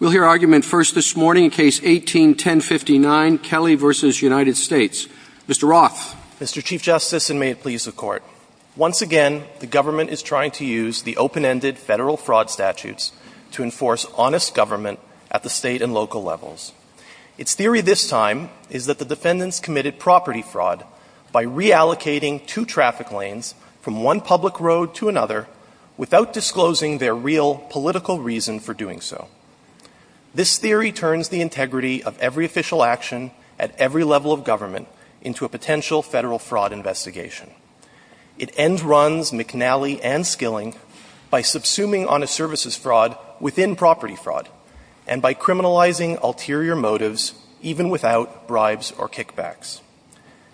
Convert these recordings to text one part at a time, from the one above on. We'll hear argument first this morning in Case 18-1059, Kelly v. United States. Mr. Roth. Mr. Chief Justice, and may it please the Court, once again, the government is trying to use the open-ended federal fraud statutes to enforce honest government at the state and local levels. Its theory this time is that the defendants committed property fraud by reallocating two traffic lanes from one public road to another without disclosing their real political reason for doing so. This theory turns the integrity of every official action at every level of government into a potential federal fraud investigation. It end-runs McNally and Skilling by subsuming honest services fraud within property fraud and by criminalizing ulterior motives even without bribes or kickbacks.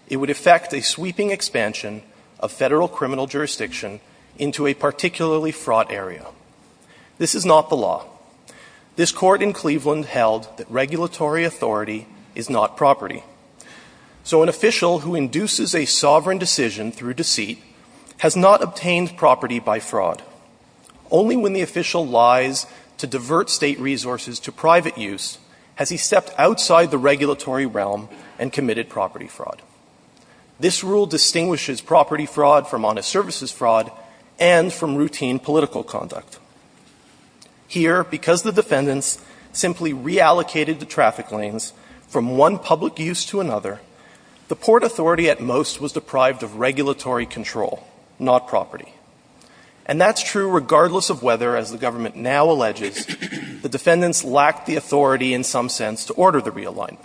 It would affect a sweeping expansion of federal criminal jurisdiction into a particularly fraud area. This is not the law. This Court in Cleveland held that regulatory authority is not property. So an official who induces a sovereign decision through deceit has not obtained property by fraud. Only when the official lies to divert state resources to private use has he stepped outside the regulatory realm and committed property fraud. This rule distinguishes property fraud from honest services fraud and from routine political conduct. Here, because the defendants simply reallocated the traffic lanes from one public use to another, the port authority at most was deprived of regulatory control, not property. And that's true regardless of whether, as the government now alleges, the defendants lacked the authority in some sense to order the realignment.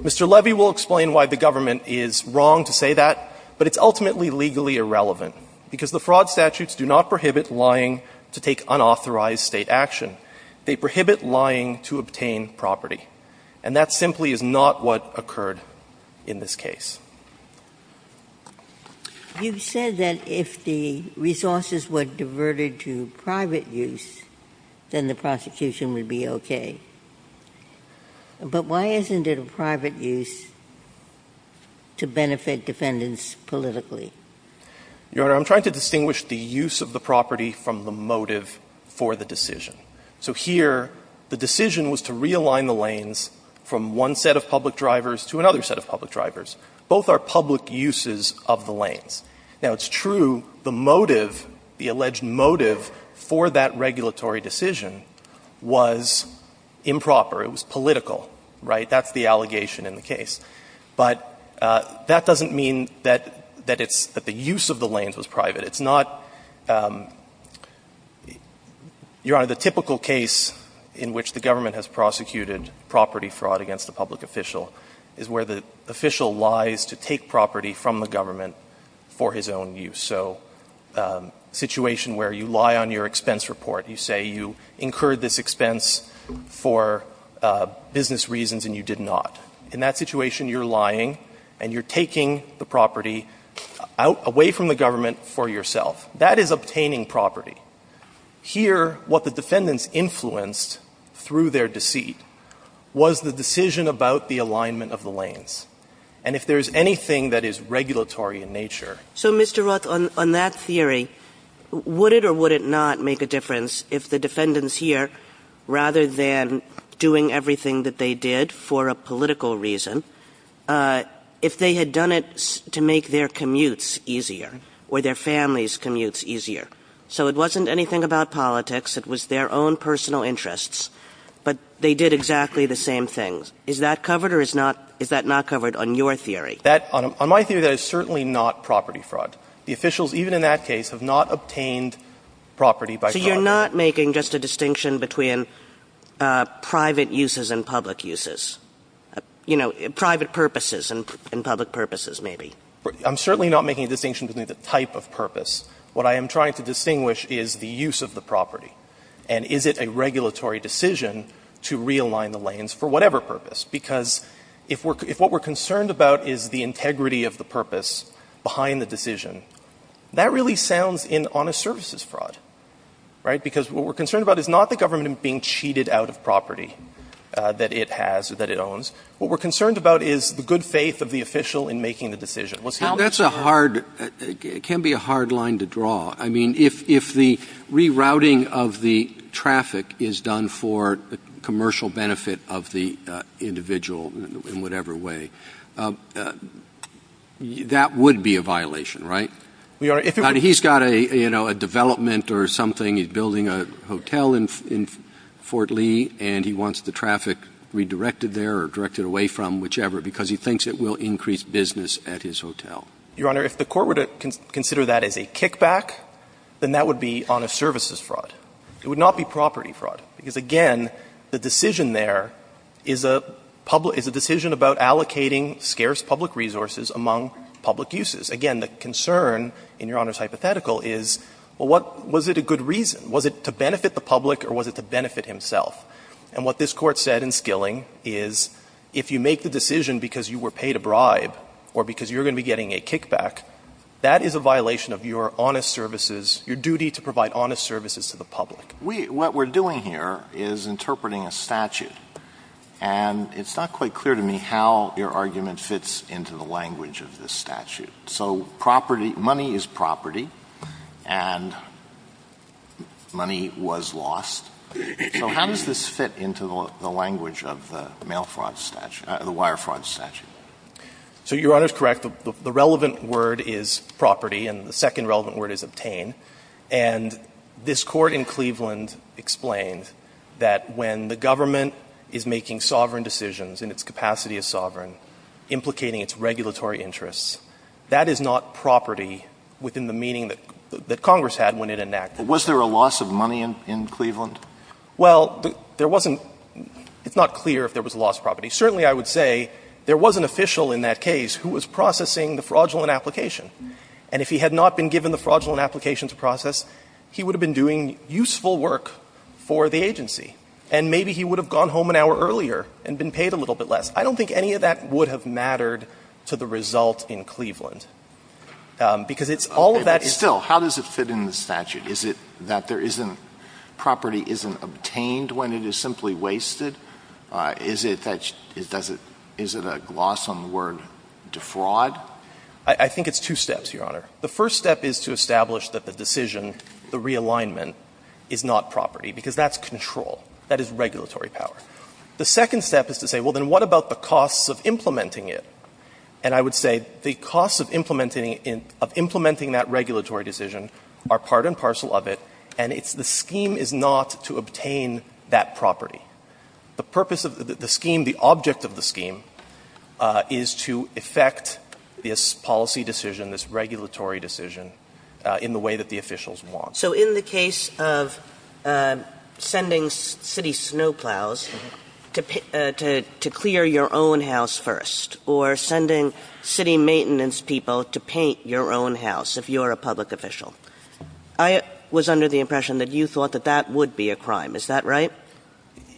Mr. Levy will explain why the government is wrong to say that, but it's ultimately legally irrelevant, because the fraud statutes do not prohibit lying to take unauthorized State action. They prohibit lying to obtain property. And that simply is not what occurred in this case. Ginsburg. You said that if the resources were diverted to private use, then the prosecution would be okay. But why isn't it a private use to benefit defendants politically? Your Honor, I'm trying to distinguish the use of the property from the motive for the decision. So here, the decision was to realign the lanes from one set of public drivers to another set of public drivers. Both are public uses of the lanes. Now, it's true the motive, the alleged motive, for that regulatory decision was improper. It was political, right? That's the allegation in the case. But that doesn't mean that it's that the use of the lanes was private. It's not, Your Honor, the typical case in which the government has prosecuted property fraud against a public official is where the official lies to take property from the government for his own use. So a situation where you lie on your expense report, you say you incurred this expense for business reasons and you did not. In that situation, you're lying and you're taking the property away from the government for yourself. That is obtaining property. Here, what the defendants influenced through their deceit was the decision about the alignment of the lanes. And if there's anything that is regulatory in nature ---- Kagan. So, Mr. Roth, on that theory, would it or would it not make a difference if the defendants here, rather than doing everything that they did for a political reason, if they had done it to make their commutes easier or their families' commutes easier? So it wasn't anything about politics. It was their own personal interests. But they did exactly the same thing. Is that covered or is not ---- is that not covered on your theory? On my theory, that is certainly not property fraud. The officials, even in that case, have not obtained property by fraud. Kagan. So you're not making just a distinction between private uses and public uses? You know, private purposes and public purposes, maybe. I'm certainly not making a distinction between the type of purpose. What I am trying to distinguish is the use of the property. And is it a regulatory decision to realign the lanes for whatever purpose? Because if what we're concerned about is the integrity of the purpose behind the decision, that really sounds in honest services fraud. Right? Because what we're concerned about is not the government being cheated out of property that it has or that it owns. What we're concerned about is the good faith of the official in making the decision. That's a hard ---- it can be a hard line to draw. I mean, if the rerouting of the traffic is done for commercial benefit of the individual in whatever way, that would be a violation, right? We are ---- But he's got a, you know, a development or something. He's building a hotel in Fort Lee, and he wants the traffic redirected there or directed away from, whichever, because he thinks it will increase business at his hotel. Your Honor, if the Court were to consider that as a kickback, then that would be honest services fraud. It would not be property fraud, because, again, the decision there is a public ---- is a decision about allocating scarce public resources among public uses. Again, the concern in Your Honor's hypothetical is, well, what ---- was it a good reason? Was it to benefit the public, or was it to benefit himself? And what this Court said in Skilling is if you make the decision because you were paid a bribe or because you're going to be getting a kickback, that is a violation of your honest services ---- your duty to provide honest services to the public. We ---- what we're doing here is interpreting a statute. And it's not quite clear to me how your argument fits into the language of this statute. So property ---- money is property, and money was lost. So how does this fit into the language of the mail fraud statute ---- the wire fraud statute? So Your Honor is correct. The relevant word is property, and the second relevant word is obtain. And this Court in Cleveland explained that when the government is making sovereign decisions and its capacity is sovereign, implicating its regulatory interests, that is not property within the meaning that Congress had when it enacted it. Alitoso, was there a loss of money in Cleveland? Well, there wasn't ---- it's not clear if there was a loss of property. Certainly, I would say there was an official in that case who was processing the fraudulent application. And if he had not been given the fraudulent application to process, he would have been doing useful work for the agency. And maybe he would have gone home an hour earlier and been paid a little bit less. I don't think any of that would have mattered to the result in Cleveland. Because it's all of that ---- Still, how does it fit in the statute? Is it that there isn't ---- property isn't obtained when it is simply wasted? Is it that ---- does it ---- is it a gloss on the word defraud? I think it's two steps, Your Honor. The first step is to establish that the decision, the realignment, is not property, because that's control. That is regulatory power. The second step is to say, well, then what about the costs of implementing it? And I would say the costs of implementing that regulatory decision are part and parcel of it, and it's the scheme is not to obtain that property. The purpose of the scheme, the object of the scheme, is to effect this policy decision, this regulatory decision, in the way that the officials want. So in the case of sending city snowplows to clear your own house first, or sending city maintenance people to paint your own house if you're a public official, I was under the impression that you thought that that would be a crime. Is that right?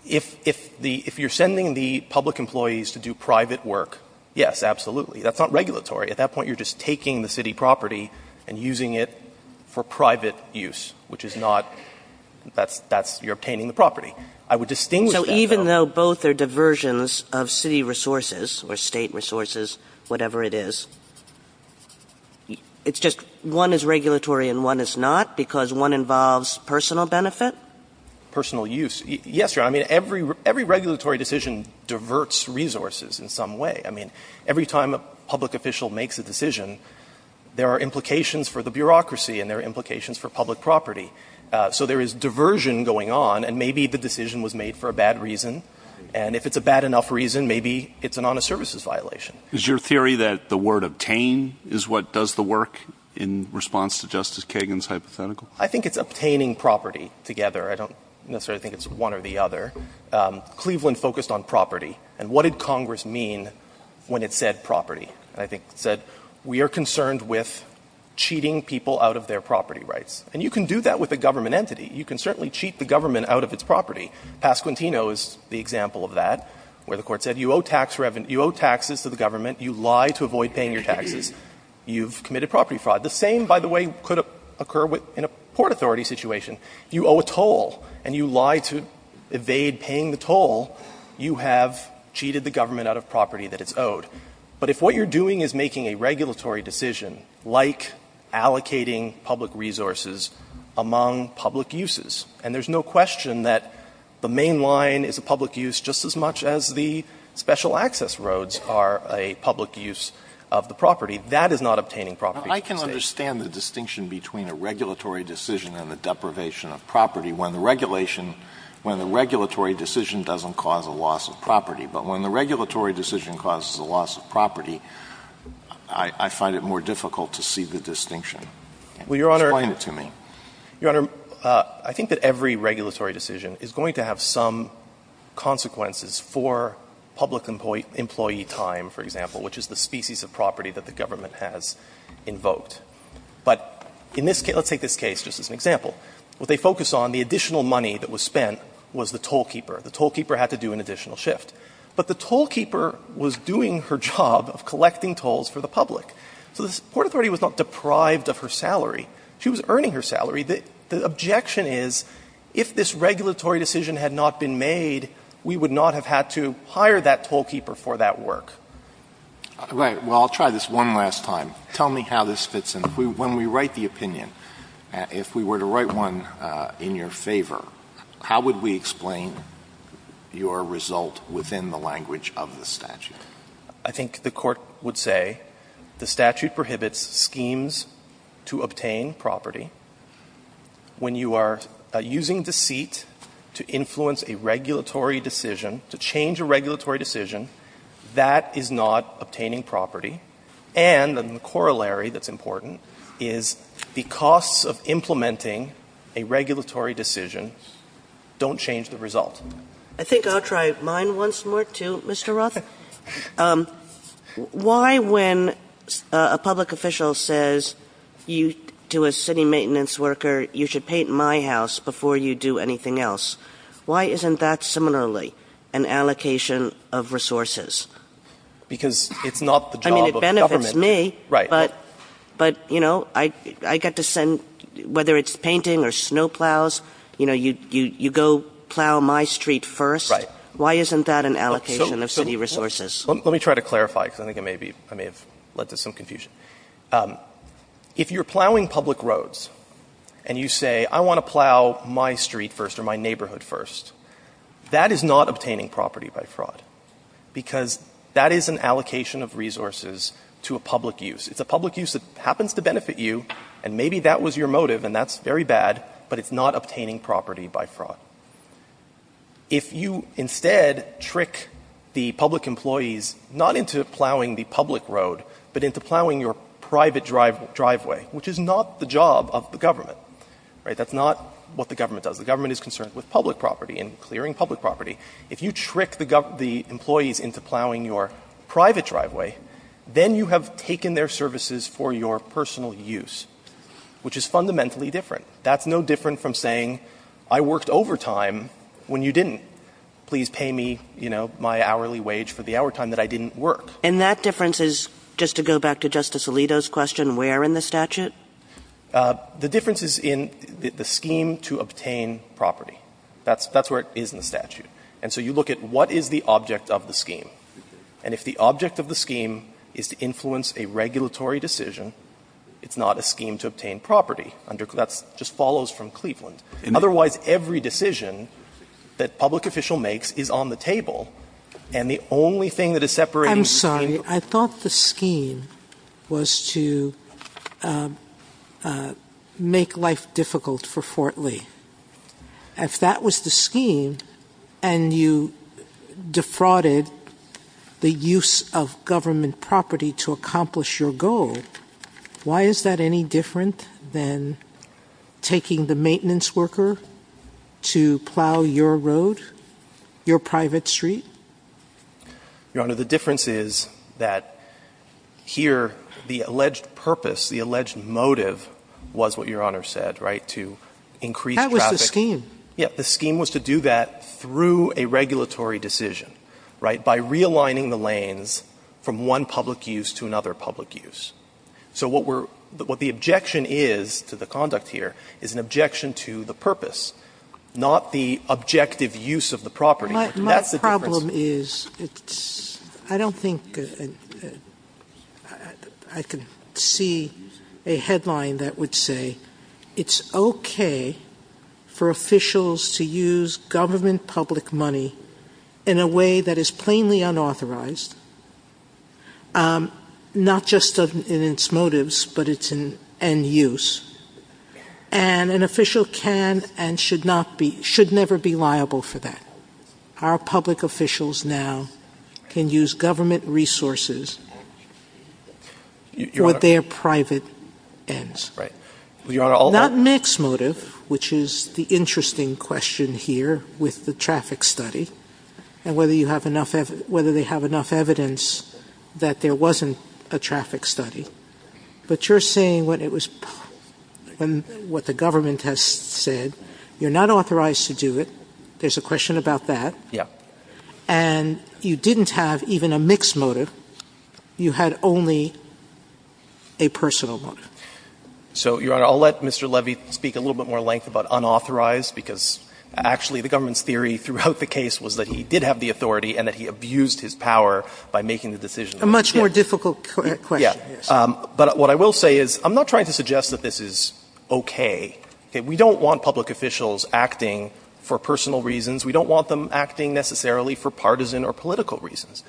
If you're sending the public employees to do private work, yes, absolutely. That's not regulatory. At that point, you're just taking the city property and using it for private use, which is not that's you're obtaining the property. I would distinguish that, though. Kagan. So even though both are diversions of city resources or State resources, whatever it is, it's just one is regulatory and one is not because one involves personal benefit? Personal use. Yes, Your Honor. I mean, every regulatory decision diverts resources in some way. I mean, every time a public official makes a decision, there are implications for the bureaucracy and there are implications for public property. So there is diversion going on, and maybe the decision was made for a bad reason. And if it's a bad enough reason, maybe it's an honest services violation. Is your theory that the word obtain is what does the work in response to Justice Kagan's hypothetical? I think it's obtaining property together. I don't necessarily think it's one or the other. Cleveland focused on property, and what did Congress mean when it said property? I think it said we are concerned with cheating people out of their property rights. And you can do that with a government entity. You can certainly cheat the government out of its property. Pasquantino is the example of that, where the Court said you owe tax revenue you owe taxes to the government, you lie to avoid paying your taxes, you've committed property fraud. The same, by the way, could occur in a Port Authority situation. You owe a toll, and you lie to evade paying the toll, you have cheated the government out of property that it's owed. But if what you're doing is making a regulatory decision, like allocating public resources among public uses, and there's no question that the main line is a public use just as much as the special access roads are a public use of the property, that is not obtaining property. Alito, I can understand the distinction between a regulatory decision and the deprivation of property when the regulation, when the regulatory decision doesn't cause a loss of property. But when the regulatory decision causes a loss of property, I find it more difficult to see the distinction. Explain it to me. Your Honor, I think that every regulatory decision is going to have some consequences for public employee time, for example, which is the species of property that the government has invoked. But in this case, let's take this case just as an example. What they focus on, the additional money that was spent was the tollkeeper. The tollkeeper had to do an additional shift. But the tollkeeper was doing her job of collecting tolls for the public. So the Port Authority was not deprived of her salary. She was earning her salary. The objection is, if this regulatory decision had not been made, we would not have had to hire that tollkeeper for that work. Alito, well, I'll try this one last time. Tell me how this fits in. When we write the opinion, if we were to write one in your favor, how would we explain your result within the language of the statute? I think the Court would say the statute prohibits schemes to obtain property when you are using deceit to influence a regulatory decision, to change a regulatory decision, that is not obtaining property. And the corollary that's important is the costs of implementing a regulatory decision don't change the result. I think I'll try mine once more, too, Mr. Rothen. Why, when a public official says to a city maintenance worker, you should paint my house before you do anything else, why isn't that similarly an allocation of property or an allocation of resources? Because it's not the job of the government to do it. I mean, it benefits me, but, you know, I get to send, whether it's painting or snow plows, you know, you go plow my street first. Right. Why isn't that an allocation of city resources? Let me try to clarify, because I think I may have led to some confusion. If you're plowing public roads, and you say, I want to plow my street first or my neighborhood first, that is not obtaining property by fraud, because that is an allocation of resources to a public use. It's a public use that happens to benefit you, and maybe that was your motive, and that's very bad, but it's not obtaining property by fraud. If you, instead, trick the public employees not into plowing the public road, but into plowing your private driveway, which is not the job of the government, right, that's not what the government does. The government is concerned with public property and clearing public property. If you trick the employees into plowing your private driveway, then you have taken their services for your personal use, which is fundamentally different. That's no different from saying, I worked overtime when you didn't. Please pay me, you know, my hourly wage for the hour time that I didn't work. And that difference is, just to go back to Justice Alito's question, where in the statute? The difference is in the scheme to obtain property. That's where it is in the statute. And so you look at what is the object of the scheme. And if the object of the scheme is to influence a regulatory decision, it's not a scheme to obtain property. That just follows from Cleveland. Otherwise, every decision that public official makes is on the table, and the only thing that is separating the scheme from the public official is the scheme to obtain property. If that was the scheme, and you defrauded the use of government property to accomplish your goal, why is that any different than taking the maintenance worker to plow your road, your private street? Your Honor, the difference is that here, the alleged purpose, the alleged motive was what Your Honor said, right, to increase traffic. That was the scheme. Yes. The scheme was to do that through a regulatory decision, right, by realigning the lanes from one public use to another public use. So what we're – what the objection is to the conduct here is an objection to the purpose, not the objective use of the property. That's the difference. The problem is it's – I don't think I can see a headline that would say it's okay for officials to use government public money in a way that is plainly unauthorized, not just in its motives, but it's in end use. And an official can and should not be – should never be liable for that. Our public officials now can use government resources for their private ends. Right. Your Honor, all – Not mixed motive, which is the interesting question here with the traffic study and whether you have enough – whether they have enough evidence that there wasn't a traffic study, but you're saying what it was – what the government has said, you're not authorized to do it. There's a question about that. Yeah. And you didn't have even a mixed motive. You had only a personal motive. So, Your Honor, I'll let Mr. Levy speak a little bit more length about unauthorized, because actually the government's theory throughout the case was that he did have the authority and that he abused his power by making the decision. A much more difficult question. Yeah. But what I will say is I'm not trying to suggest that this is okay. Okay. We don't want public officials acting for personal reasons. We don't want them acting necessarily for partisan or political reasons.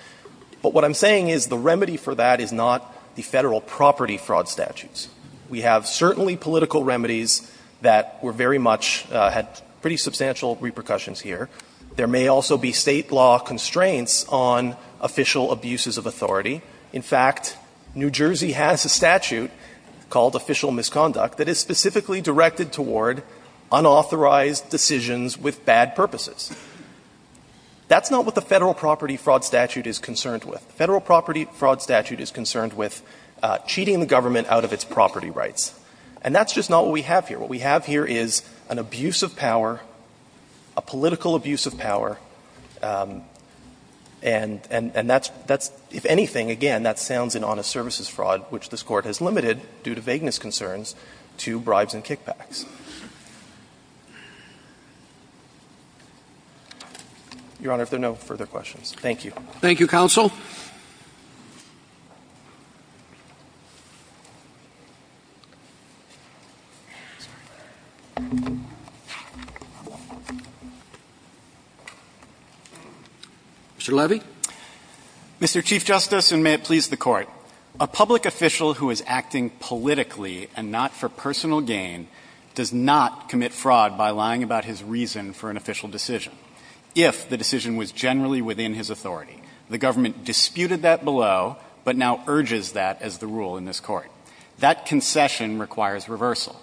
But what I'm saying is the remedy for that is not the Federal property fraud statutes. We have certainly political remedies that were very much – had pretty substantial repercussions here. There may also be State law constraints on official abuses of authority. In fact, New Jersey has a statute called official misconduct that is specifically directed toward unauthorized decisions with bad purposes. That's not what the Federal property fraud statute is concerned with. The Federal property fraud statute is concerned with cheating the government out of its property rights. And that's just not what we have here. What we have here is an abuse of power, a political abuse of power, and that's – if anything, again, that sounds in honest services fraud, which this Court has limited due to vagueness concerns to bribes and kickbacks. Your Honor, if there are no further questions, thank you. Thank you, counsel. Mr. Levy. Mr. Chief Justice, and may it please the Court. A public official who is acting politically and not for personal gain does not commit fraud by lying about his reason for an official decision. If the decision was generally within his authority, the government disputed that below but now urges that as the rule in this Court. That concession requires reversal.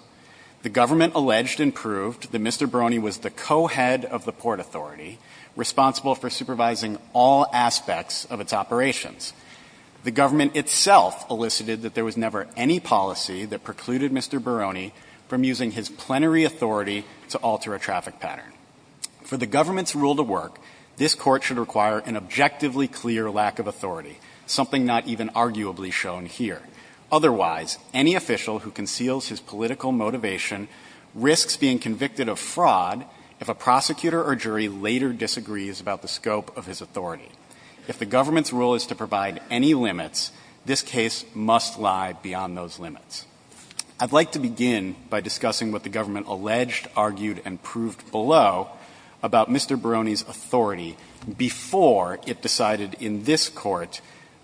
The government alleged and proved that Mr. Brony was the co-head of the Port Authority, responsible for supervising all aspects of its operations. The government itself elicited that there was never any policy that precluded Mr. Brony from using his plenary authority to alter a traffic pattern. For the government's rule to work, this Court should require an objectively clear lack of authority, something not even arguably shown here. Otherwise, any official who conceals his political motivation risks being convicted of fraud if a prosecutor or jury later disagrees about the scope of his authority. If the government's rule is to provide any limits, this case must lie beyond those limits. I'd like to begin by discussing what the government alleged, argued, and proved below about Mr. Brony's authority before it decided in this Court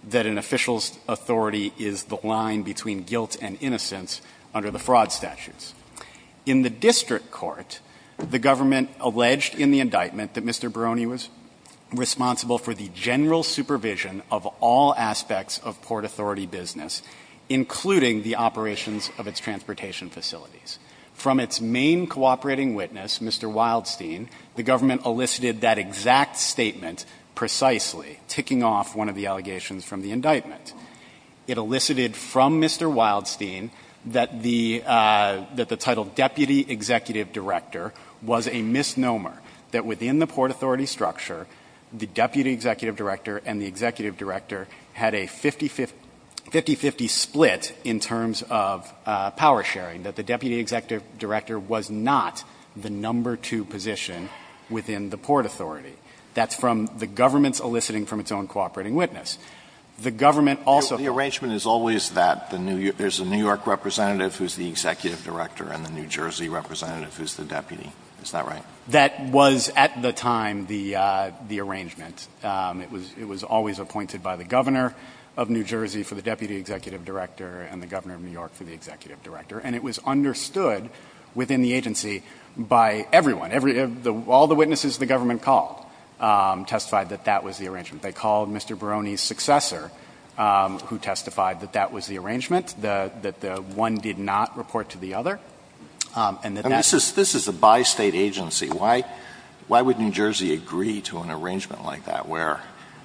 that an official's authority is the line between guilt and innocence under the fraud statutes. In the district court, the government alleged in the indictment that Mr. Brony was responsible for the general supervision of all aspects of Port Authority business, including the operations of its transportation facilities. From its main cooperating witness, Mr. Wildstein, the government elicited that exact statement precisely, ticking off one of the allegations from the indictment. It elicited from Mr. Wildstein that the title Deputy Executive Director was a misnomer that within the Port Authority structure, the Deputy Executive Director and the Executive Director had a 50-50 split in terms of power-sharing, that the Deputy Executive Director was not the number two position within the Port Authority. That's from the government's eliciting from its own cooperating witness. The government also found the arrangement is always that there's a New York representative who's the Executive Director and the New Jersey representative who's the Deputy. Is that right? That was, at the time, the arrangement. It was always appointed by the Governor of New Jersey for the Deputy Executive Director and the Governor of New York for the Executive Director. And it was understood within the agency by everyone. All the witnesses the government called testified that that was the arrangement. They called Mr. Brony's successor, who testified that that was the arrangement, that one did not report to the other. And that that's the case. Alito This is a bi-State agency. Why would New Jersey agree to an arrangement like that where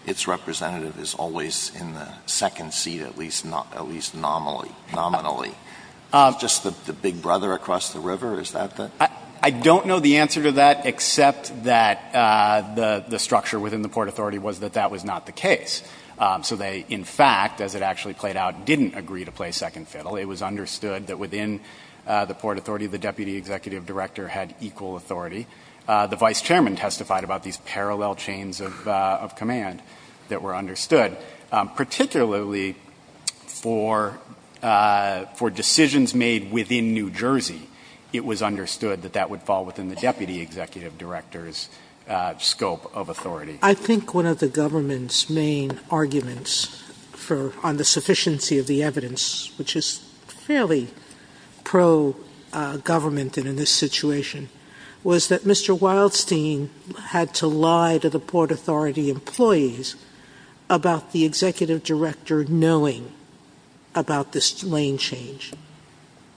its representative is always in the second seat, at least nominally? Is it just the big brother across the river? Is that the case? Fisher I don't know the answer to that, except that the structure within the Port Authority was that that was not the case. So they, in fact, as it actually played out, didn't agree to play second fiddle. It was understood that within the Port Authority, the Deputy Executive Director had equal authority. The Vice Chairman testified about these parallel chains of command that were understood. Particularly for decisions made within New Jersey, it was understood that that would fall within the Deputy Executive Director's scope of authority. Sotomayor I think one of the government's main arguments on the sufficiency of the evidence, which is fairly pro-government in this situation, was that Mr. Wildstein had to lie to the Port Authority employees about the Executive Director knowing about this lane change.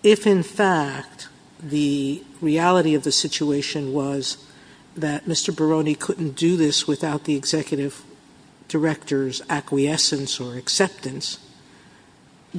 If, in fact, the reality of the situation was that Mr. Barone couldn't do this without the Executive Director's acquiescence or acceptance,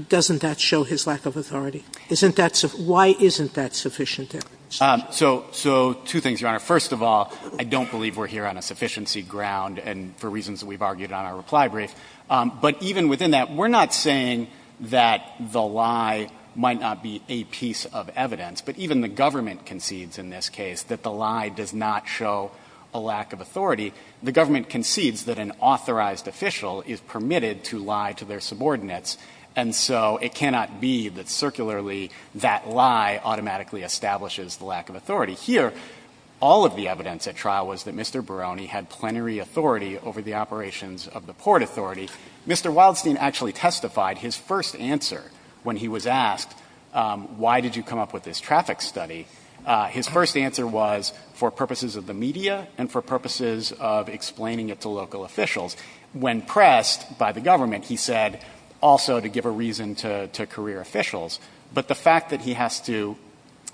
doesn't that show his lack of authority? Why isn't that sufficient evidence? So two things, Your Honor. First of all, I don't believe we're here on a sufficiency ground and for reasons that we've argued on our reply brief. But even within that, we're not saying that the lie might not be a piece of evidence. But even the government concedes in this case that the lie does not show a lack of authority. The government concedes that an authorized official is permitted to lie to their subordinates, and so it cannot be that circularly that lie automatically establishes the lack of authority. Here, all of the evidence at trial was that Mr. Barone had plenary authority over the operations of the Port Authority. Mr. Wildstein actually testified his first answer when he was asked, why did you come up with this traffic study? His first answer was for purposes of the media and for purposes of explaining it to local officials. When pressed by the government, he said also to give a reason to career officials. But the fact that he has to,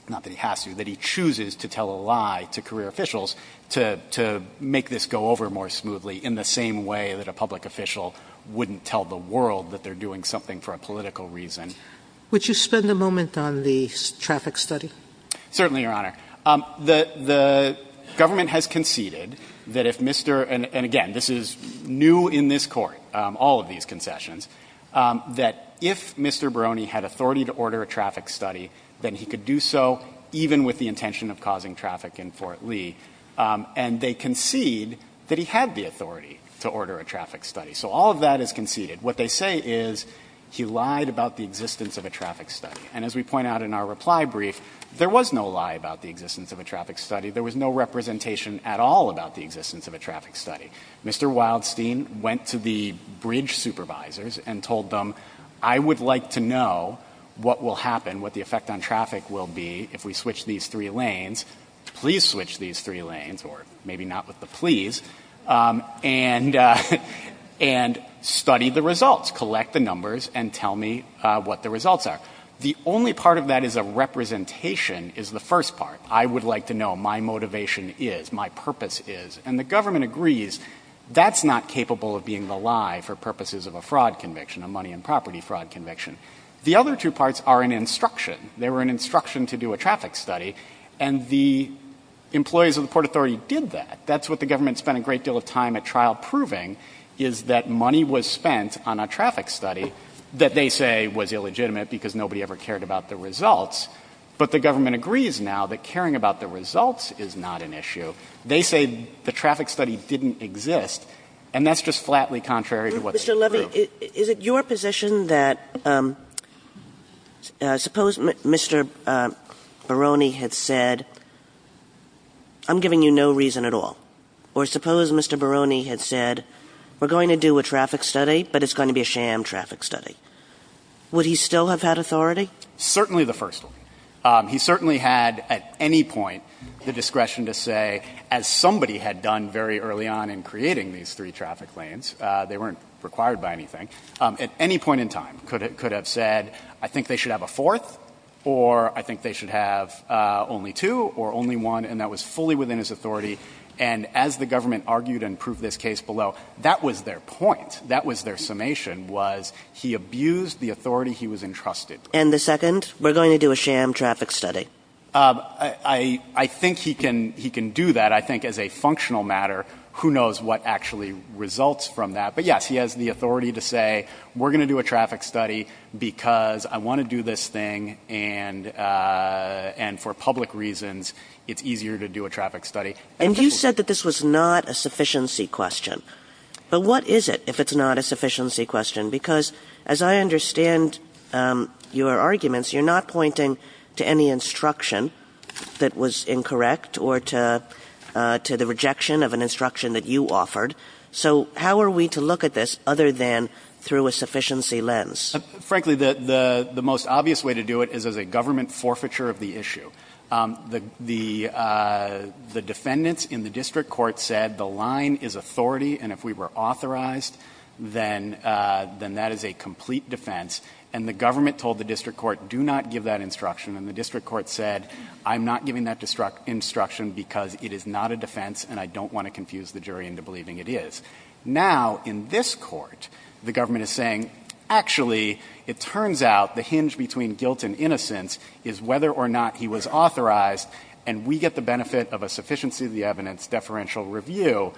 not that he has to, that he chooses to tell a lie to career officials to make this go over more smoothly in the same way that a public official wouldn't tell the world that they're doing something for a political reason. Would you spend a moment on the traffic study? Certainly, Your Honor. The government has conceded that if Mr. — and again, this is new in this Court, all of these concessions — that if Mr. Barone had authority to order a traffic study, then he could do so even with the intention of causing traffic in Fort Lee. And they concede that he had the authority to order a traffic study. So all of that is conceded. What they say is he lied about the existence of a traffic study. And as we point out in our reply brief, there was no lie about the existence of a traffic study. There was no representation at all about the existence of a traffic study. Mr. Wildstein went to the bridge supervisors and told them, I would like to know what will happen, what the effect on traffic will be if we switch these three lanes — please switch these three lanes, or maybe not with the please — and study the results. Collect the numbers and tell me what the results are. The only part of that is a representation is the first part. I would like to know my motivation is, my purpose is. And the government agrees that's not capable of being the lie for purposes of a fraud conviction, a money and property fraud conviction. The other two parts are an instruction. They were an instruction to do a traffic study. And the employees of the Port Authority did that. That's what the government spent a great deal of time at trial proving, is that money was spent on a traffic study that they say was illegitimate because nobody ever cared about the results. But the government agrees now that caring about the results is not an issue. They say the traffic study didn't exist. And that's just flatly contrary to what's true. Mr. Levy, is it your position that — suppose Mr. Barone had said, I'm giving you no reason at all, or suppose Mr. Barone had said, we're going to do a traffic study, but it's going to be a sham traffic study. Would he still have had authority? Certainly the first one. He certainly had at any point the discretion to say, as somebody had done very early on in creating these three traffic lanes — they weren't required by anything — at any point in time could have said, I think they should have a fourth, or I think they should have only two, or only one, and that was fully within his authority. And as the government argued and proved this case below, that was their point. That was their summation, was he abused the authority he was entrusted with. And the second, we're going to do a sham traffic study. I think he can do that. I think as a functional matter, who knows what actually results from that. But yes, he has the authority to say, we're going to do a traffic study because I want to do this thing, and for public reasons, it's easier to do a traffic study. And you said that this was not a sufficiency question. But what is it if it's not a sufficiency question? Because as I understand your arguments, you're not pointing to any instruction that was incorrect or to the rejection of an instruction that you offered. So how are we to look at this other than through a sufficiency lens? Frankly, the most obvious way to do it is as a government forfeiture of the issue. The defendants in the district court said the line is authority, and if we were authorized, then that is a complete defense. And the government told the district court, do not give that instruction. And the district court said, I'm not giving that instruction because it is not a defense, and I don't want to confuse the jury into believing it is. Now, in this court, the government is saying, actually, it turns out the hinge between guilt and innocence is whether or not he was authorized, and we get the benefit of a sufficiency of the evidence deferential review,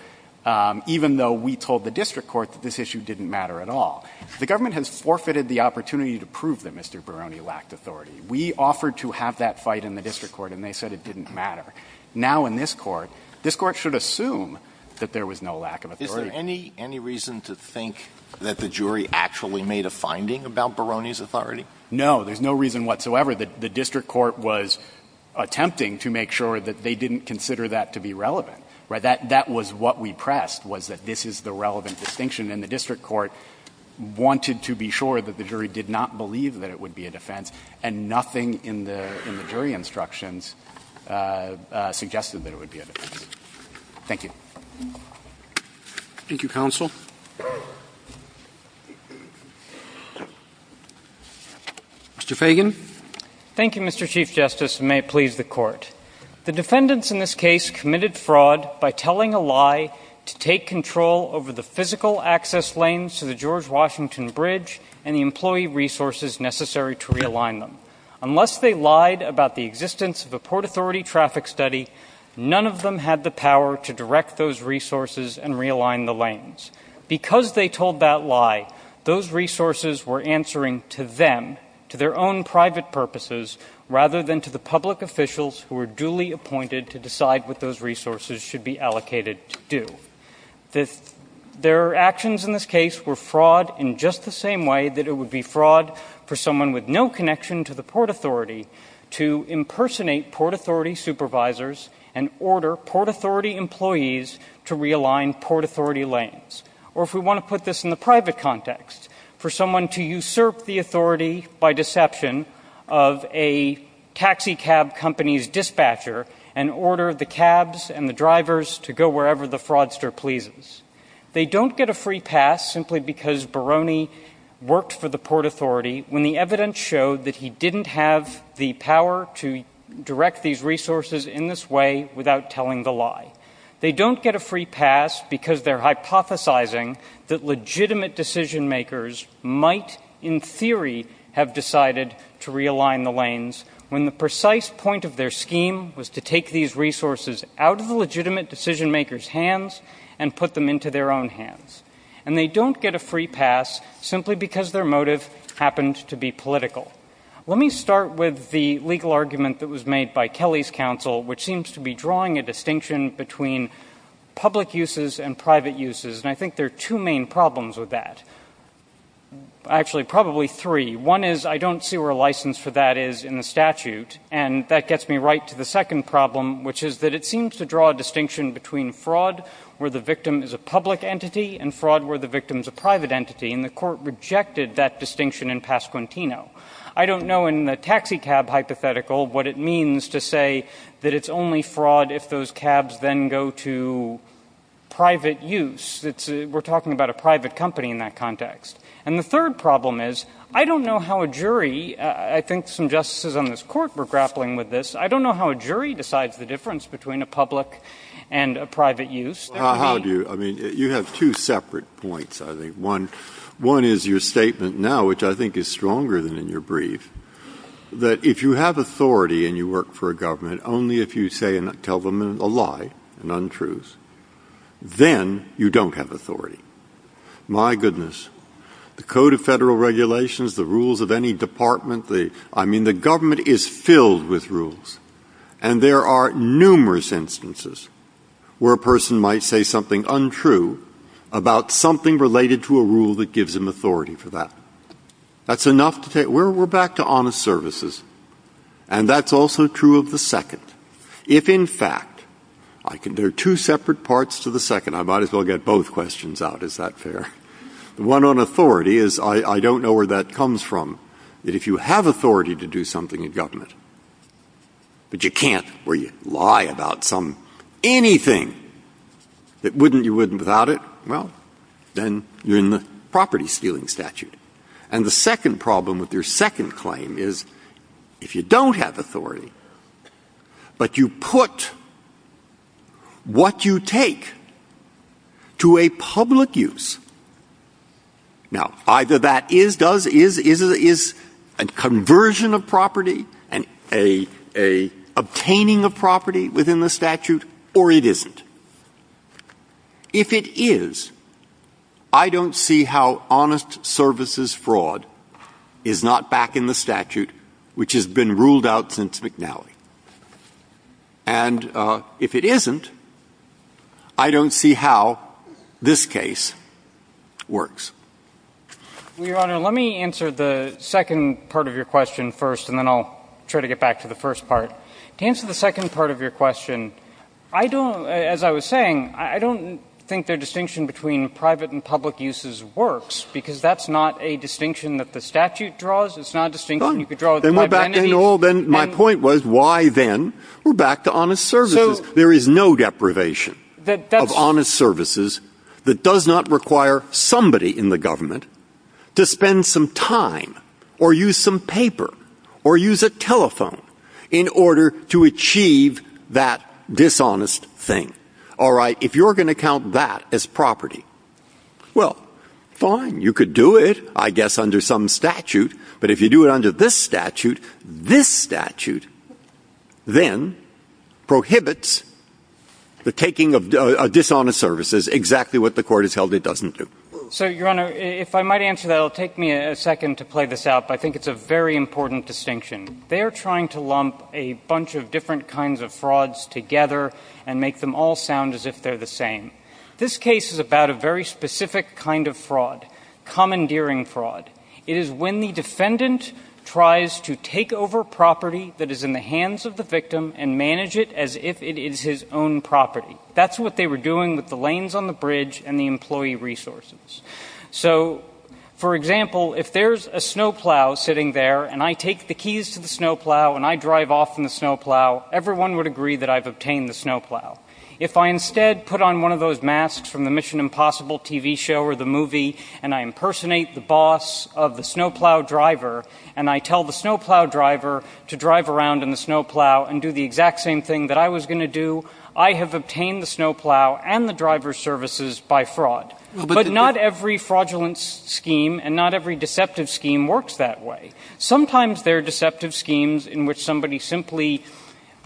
even though we told the district court that this issue didn't matter at all. The government has forfeited the opportunity to prove that Mr. Barone lacked authority. We offered to have that fight in the district court, and they said it didn't matter. Now, in this court, this court should assume that there was no lack of authority. Any reason to think that the jury actually made a finding about Barone's authority? No. There's no reason whatsoever. The district court was attempting to make sure that they didn't consider that to be relevant, right? That was what we pressed, was that this is the relevant distinction. And the district court wanted to be sure that the jury did not believe that it would be a defense, and nothing in the jury instructions suggested that it would be a defense. Thank you. Thank you, counsel. Mr. Fagan. Thank you, Mr. Chief Justice, and may it please the court. The defendants in this case committed fraud by telling a lie to take control over the physical access lanes to the George Washington Bridge and the employee resources necessary to realign them. Unless they lied about the existence of a Port Authority traffic study, none of them had the power to direct those resources and realign the lanes. Because they told that lie, those resources were answering to them, to their own private purposes, rather than to the public officials who were duly appointed to decide what those resources should be allocated to do. Their actions in this case were fraud in just the same way that it would be fraud for someone with no connection to the Port Authority to impersonate Port Authority supervisors and order Port Authority employees to realign Port Authority lanes. Or, if we want to put this in the private context, for someone to usurp the authority by deception of a taxi cab company's dispatcher and order the cabs and the drivers to go wherever the fraudster pleases. They don't get a free pass simply because Barone worked for the Port Authority when the evidence showed that he didn't have the power to direct these resources in this way without telling the lie. They don't get a free pass because they're hypothesizing that legitimate decision makers might, in theory, have decided to realign the lanes when the precise point of their scheme was to take these resources out of the legitimate decision makers' hands and put them into their own hands. And they don't get a free pass simply because their motive happened to be political. Let me start with the legal argument that was made by Kelly's counsel, which seems to be drawing a distinction between public uses and private uses. And I think there are two main problems with that. Actually, probably three. One is I don't see where license for that is in the statute. And that gets me right to the second problem, which is that it seems to draw a distinction between fraud where the victim is a public entity and fraud where the victim is a private entity. And the Court rejected that distinction in Pasquantino. I don't know in the taxicab hypothetical what it means to say that it's only fraud if those cabs then go to private use. We're talking about a private company in that context. And the third problem is I don't know how a jury — I think some justices on this Court were grappling with this — I don't know how a jury decides the difference between a public and a private use. That would be — Breyer. How do you — I mean, you have two separate points, I think. One is your statement now, which I think is stronger than in your brief, that if you have authority and you work for a government, only if you say and tell them a lie and untruths, then you don't have authority. My goodness. The Code of Federal Regulations, the rules of any department, the — I mean, the government is filled with rules. And there are numerous instances where a person might say something untrue about something related to a rule that gives him authority for that. That's enough to take — we're back to honest services. And that's also true of the second. If, in fact, I can — there are two separate parts to the second. I might as well get both questions out. Is that fair? The one on authority is I don't know where that comes from, that if you have authority to do something in government, but you can't, where you lie about some — anything that you wouldn't without it, well, then you're in the property-stealing statute. And the second problem with your second claim is if you don't have authority, but you put what you take to a public use — now, either that is, does, is, is a conversion of property and a — a obtaining of property within the statute, or it isn't. If it is, I don't see how honest services fraud is not back in the statute, which has been ruled out since McNally. And if it isn't, I don't see how this case works. MR. GOLDSMITH. Your Honor, let me answer the second part of your question first, and then I'll try to get back to the first part. To answer the second part of your question, I don't — as I was saying, I don't think their distinction between private and public uses works, because that's not a distinction that the statute draws. It's not a distinction you could draw — JUSTICE BREYER. Then we're back to — you know, my point was, why then? We're back to honest services. MR. GOLDSMITH. There is no deprivation of honest services that does not require somebody in the government to spend some time or use some paper or use a telephone in order to achieve that dishonest thing. All right? If you're going to count that as property, well, fine, you could do it, I guess, under some statute. But if you do it under this statute, this statute then prohibits the taking of dishonest services, exactly what the Court has held it doesn't do. So, Your Honor, if I might answer that, it will take me a second to play this out, but I think it's a very important distinction. They are trying to lump a bunch of different kinds of frauds together and make them all sound as if they're the same. This case is about a very specific kind of fraud, commandeering fraud. It is when the defendant tries to take over property that is in the hands of the victim and manage it as if it is his own property. That's what they were doing with the lanes on the bridge and the employee resources. So, for example, if there's a snowplow sitting there and I take the keys to the snowplow and I drive off in the snowplow, everyone would agree that I've obtained the snowplow. If I instead put on one of those masks from the Mission Impossible TV show or the movie and I impersonate the boss of the snowplow driver and I tell the snowplow driver to drive around in the snowplow and do the exact same thing that I was going to do, I have obtained the snowplow and the driver's services by fraud. But not every fraudulent scheme and not every deceptive scheme works that way. Sometimes there are deceptive schemes in which somebody simply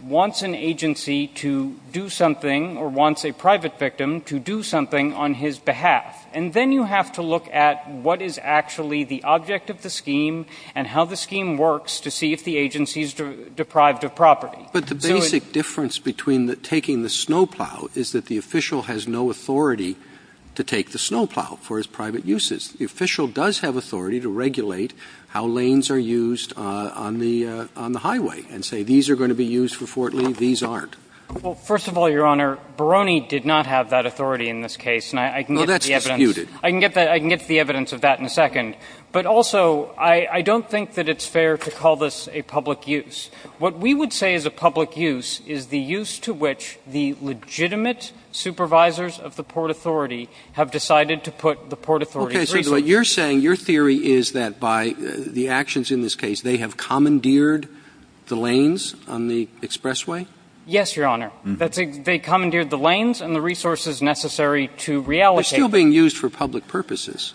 wants an agency to do something or wants a private victim to do something on his behalf. And then you have to look at what is actually the object of the scheme and how the scheme works to see if the agency is deprived of property. But the basic difference between taking the snowplow is that the official has no authority to take the snowplow for his private uses. The official does have authority to regulate how lanes are used on the highway and say these are going to be used for Fort Lee, these aren't. Well, first of all, Your Honor, Barone did not have that authority in this case. And I can get to the evidence. Well, that's disputed. I can get to the evidence of that in a second. But also, I don't think that it's fair to call this a public use. What we would say is a public use is the use to which the legitimate supervisors of the Port Authority have decided to put the Port Authority at risk. Okay. So what you're saying, your theory is that by the actions in this case, they have commandeered the lanes on the expressway? Yes, Your Honor. They commandeered the lanes and the resources necessary to reallocate. They're still being used for public purposes.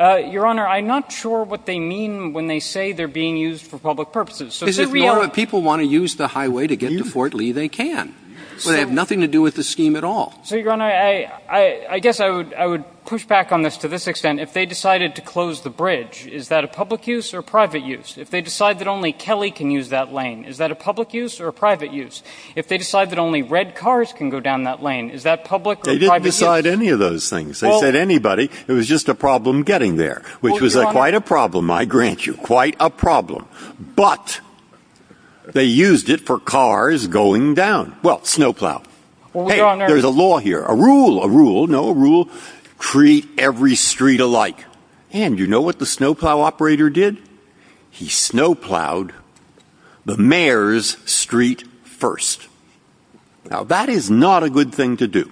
Your Honor, I'm not sure what they mean when they say they're being used for public purposes. Is it normal that people want to use the highway to get to Fort Lee? They can, but they have nothing to do with the scheme at all. So, Your Honor, I guess I would push back on this to this extent. If they decided to close the bridge, is that a public use or private use? If they decide that only Kelly can use that lane, is that a public use or a private use? If they decide that only red cars can go down that lane, is that public or private use? They didn't decide any of those things. They said anybody. It was just a problem getting there, which was quite a problem, I grant you. Quite a problem. But they used it for cars going down. Well, snowplow. Hey, there's a law here. A rule. A rule. No, a rule. Treat every street alike. And you know what the snowplow operator did? He snowplowed the mayor's street first. Now, that is not a good thing to do.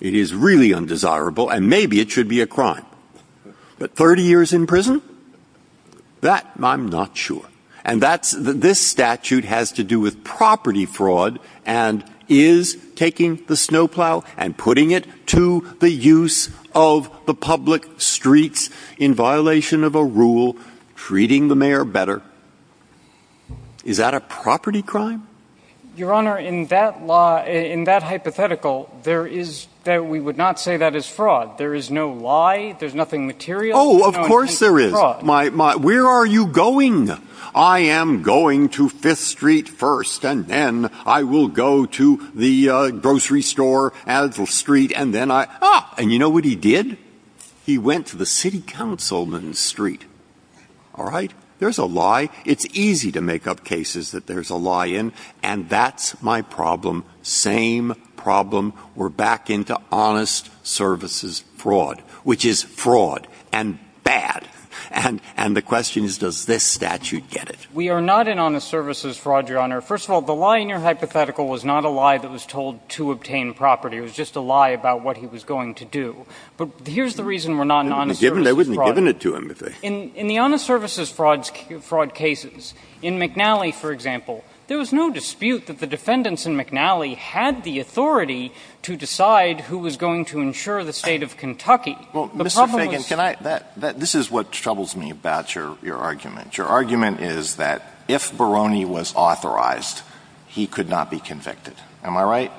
It is really undesirable. And maybe it should be a crime. But 30 years in prison? That, I'm not sure. And this statute has to do with property fraud and is taking the snowplow and putting it to the use of the public streets in violation of a rule, treating the mayor better. Is that a property crime? Your Honor, in that hypothetical, we would not say that is fraud. There is no lie. There's nothing material. Oh, of course there is. Where are you going? I am going to Fifth Street first. And then I will go to the grocery store at the street. And then I—ah! And you know what he did? He went to the city councilman's street. All right? There's a lie. It's easy to make up cases that there's a lie in. And that's my problem. Same problem. We're back into honest services fraud, which is fraud and bad. And the question is, does this statute get it? We are not in honest services fraud, Your Honor. First of all, the lie in your hypothetical was not a lie that was told to obtain property. It was just a lie about what he was going to do. But here's the reason we're not in honest services fraud. They wouldn't have given it to him if they— In the honest services fraud cases, in McNally, for example, there was no dispute that the defendants in McNally had the authority to decide who was going to insure the state of Kentucky. Well, Mr. Fagan, can I—this is what troubles me about your argument. Your argument is that if Barone was authorized, he could not be convicted. Am I right?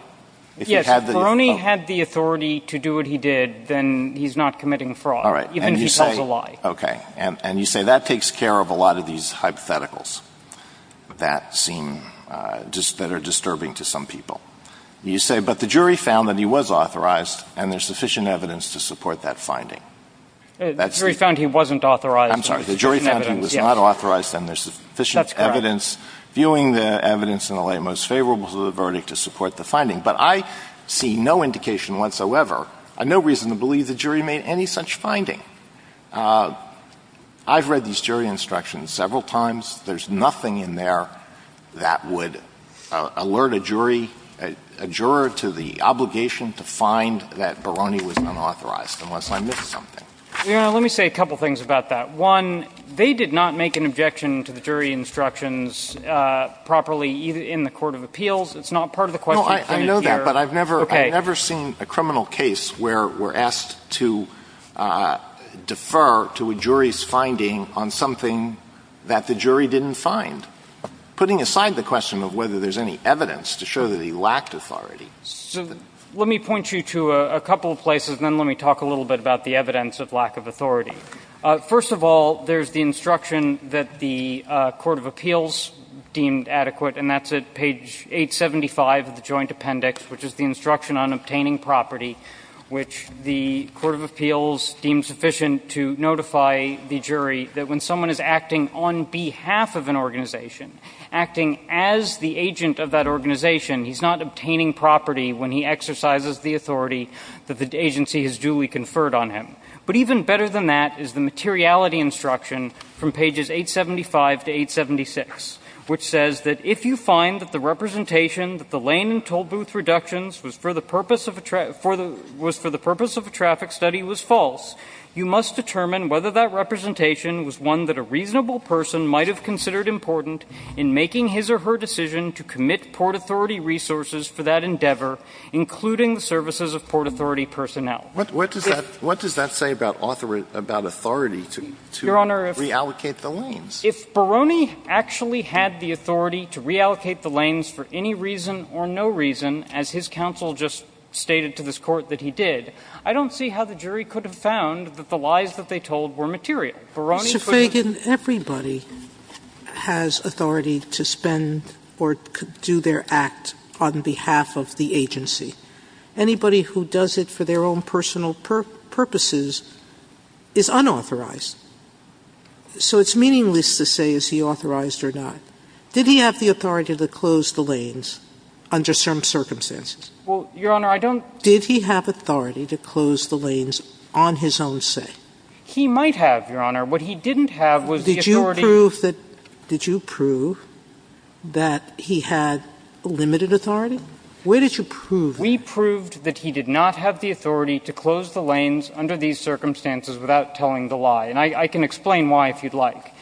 Yes, if Barone had the authority to do what he did, then he's not committing fraud, even if he tells a lie. Okay. And you say that takes care of a lot of these hypotheticals that seem—that are disturbing to some people. You say, but the jury found that he was authorized, and there's sufficient evidence to support that finding. The jury found he wasn't authorized. I'm sorry. The jury found he was not authorized, and there's sufficient evidence, viewing the evidence in the light most favorable to the verdict to support the finding. But I see no indication whatsoever—no reason to believe the jury made any such finding. I've read these jury instructions several times. There's nothing in there that would alert a jury—a juror to the obligation to find that Barone was unauthorized, unless I missed something. Your Honor, let me say a couple of things about that. One, they did not make an objection to the jury instructions properly in the court of appeals. It's not part of the question. No, I know that. But I've never— Okay. I've never seen a criminal case where we're asked to defer to a jury's finding on something that the jury didn't find, putting aside the question of whether there's any evidence to show that he lacked authority. So let me point you to a couple of places, and then let me talk a little bit about the evidence of lack of authority. First of all, there's the instruction that the court of appeals deemed adequate, and that's at page 875 of the Joint Appendix, which is the instruction on obtaining property, which the court of appeals deemed sufficient to notify the jury that when someone is acting on behalf of an organization, acting as the agent of that organization, he's not obtaining property when he exercises the authority that the agency has duly conferred on him. But even better than that is the materiality instruction from pages 875 to 876, which says that if you find that the representation that the lane and toll booth reductions was for the purpose of a traffic study was false, you must determine whether that representation was one that a reasonable person might have considered important in making his or her decision to commit Port Authority resources for that endeavor, including the services of Port Authority personnel. What does that say about authority to reallocate the lanes? If Barone actually had the authority to reallocate the lanes for any reason or no reason, as his counsel just stated to this court that he did, I don't see how the jury could have found that the lies that they told were material. Barone could have— Mr. Feigin, everybody has authority to spend or do their act on behalf of the agency. Anybody who does it for their own personal purposes is unauthorized. So it's meaningless to say is he authorized or not. Did he have the authority to close the lanes under certain circumstances? Well, Your Honor, I don't— Did he have authority to close the lanes on his own say? He might have, Your Honor. What he didn't have was the authority— Did you prove that he had limited authority? Where did you prove that? We proved that he did not have the authority to close the lanes under these circumstances without telling the lie. I can explain why if you'd like.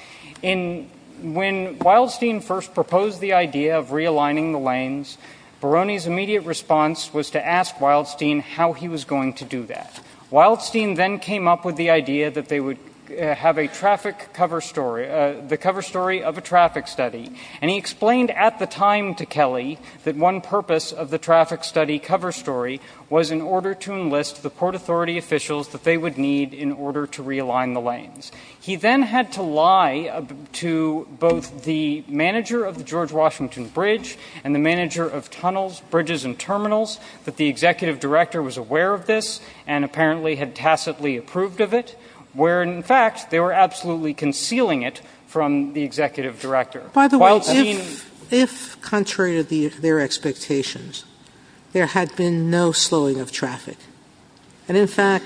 When Wildstein first proposed the idea of realigning the lanes, Barone's immediate response was to ask Wildstein how he was going to do that. Wildstein then came up with the idea that they would have a traffic cover story—the cover story of a traffic study. And he explained at the time to Kelly that one purpose of the traffic study cover story was in order to enlist the Port Authority officials that they would need in order to He then had to lie to both the manager of the George Washington Bridge and the manager of tunnels, bridges, and terminals that the executive director was aware of this and apparently had tacitly approved of it, where, in fact, they were absolutely concealing it from the executive director. Wildstein— By the way, if, contrary to their expectations, there had been no slowing of traffic, and, in fact,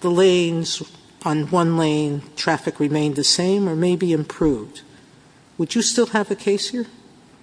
the lanes—on one lane, traffic remained the same or maybe improved, would you still have a case here?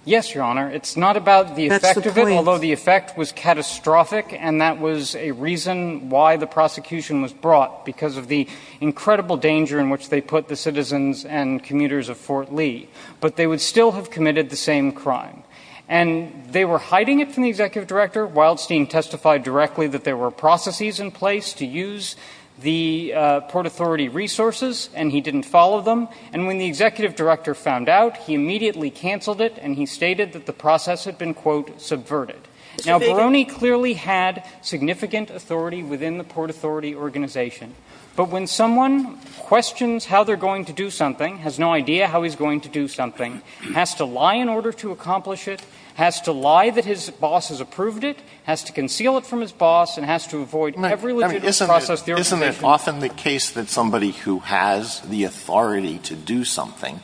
Yes, Your Honor. It's not about the effect of it, although the effect was catastrophic, and that was a reason why the prosecution was brought, because of the incredible danger in which they put the citizens and commuters of Fort Lee. But they would still have committed the same crime. And they were hiding it from the executive director. Wildstein testified directly that there were processes in place to use the Port Authority resources, and he didn't follow them. And when the executive director found out, he immediately canceled it, and he stated that the process had been, quote, subverted. Now, Brony clearly had significant authority within the Port Authority organization. But when someone questions how they're going to do something, has no idea how he's going to do something, has to lie in order to accomplish it, has to lie that his boss has approved it, has to conceal it from his boss, and has to avoid every legitimate process there is. Isn't it often the case that somebody who has the authority to do something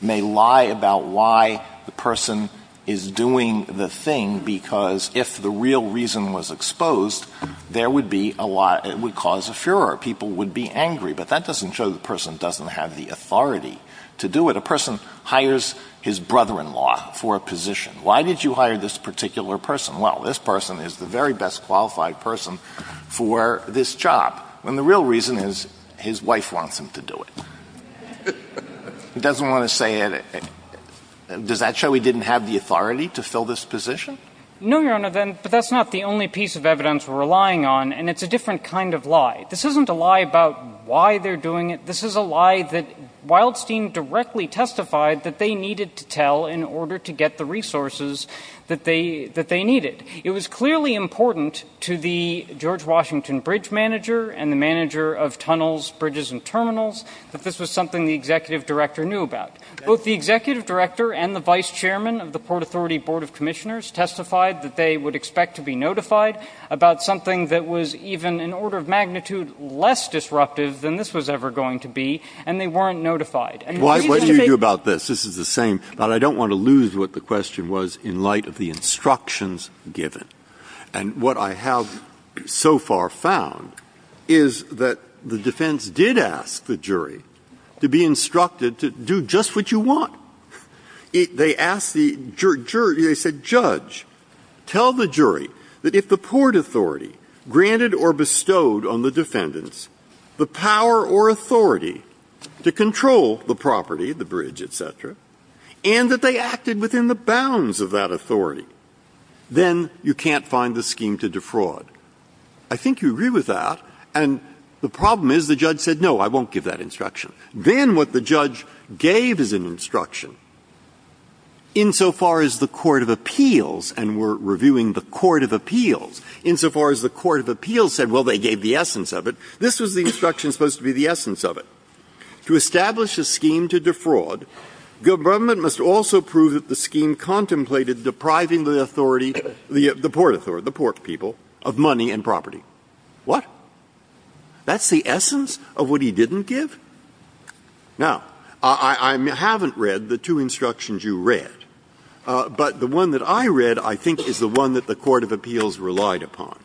may lie about why the person is doing the thing, because if the real reason was exposed, there would be a lot of – it would cause a furor. People would be angry. But that doesn't show the person doesn't have the authority to do it. A person hires his brother-in-law for a position. Why did you hire this particular person? Well, this person is the very best qualified person for this job. And the real reason is his wife wants him to do it. He doesn't want to say it – does that show he didn't have the authority to fill this position? No, Your Honor, but that's not the only piece of evidence we're relying on, and it's a different kind of lie. This isn't a lie about why they're doing it. This is a lie that Wildstein directly testified that they needed to tell in order to get the resources that they – that they needed. It was clearly important to the George Washington bridge manager and the manager of tunnels, bridges, and terminals that this was something the executive director knew about. Both the executive director and the vice chairman of the Port Authority Board of Commissioners testified that they would expect to be notified about something that was even in order of magnitude less disruptive than this was ever going to be, and they weren't notified. What do you do about this? This is the same. But I don't want to lose what the question was in light of the instructions given. And what I have so far found is that the defense did ask the jury to be instructed to do just what you want. They asked the jury – they said, judge, tell the jury that if the Port Authority granted or bestowed on the defendants the power or authority to control the property, the bridge, et cetera, and that they acted within the bounds of that authority, then you can't find the scheme to defraud. I think you agree with that, and the problem is the judge said, no, I won't give that instruction. Then what the judge gave as an instruction, insofar as the court of appeals – and we're reviewing the court of appeals – insofar as the court of appeals said, well, they gave the essence of it, this was the instruction supposed to be the essence of it. To establish a scheme to defraud, the government must also prove that the scheme contemplated depriving the authority – the Port Authority, the Port people – of money and property. What? That's the essence of what he didn't give? Now, I haven't read the two instructions you read, but the one that I read, I think, is the one that the court of appeals relied upon.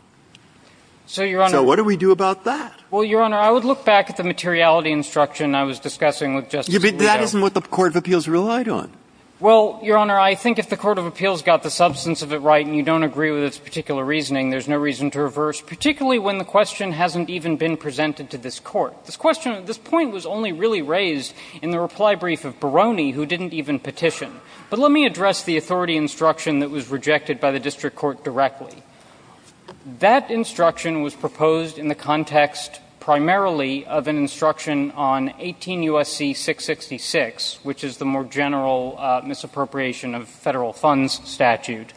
So what do we do about that? Well, Your Honor, I would look back at the materiality instruction I was discussing with Justice Alito. But that isn't what the court of appeals relied on. Well, Your Honor, I think if the court of appeals got the substance of it right and you don't agree with its particular reasoning, there's no reason to reverse, particularly when the question hasn't even been presented to this Court. This question – this point was only really raised in the reply brief of Barone, who didn't even petition. But let me address the authority instruction that was rejected by the district court directly. That instruction was proposed in the context, primarily, of an instruction on 18 U.S.C. 666, which is the more general misappropriation of federal funds statute.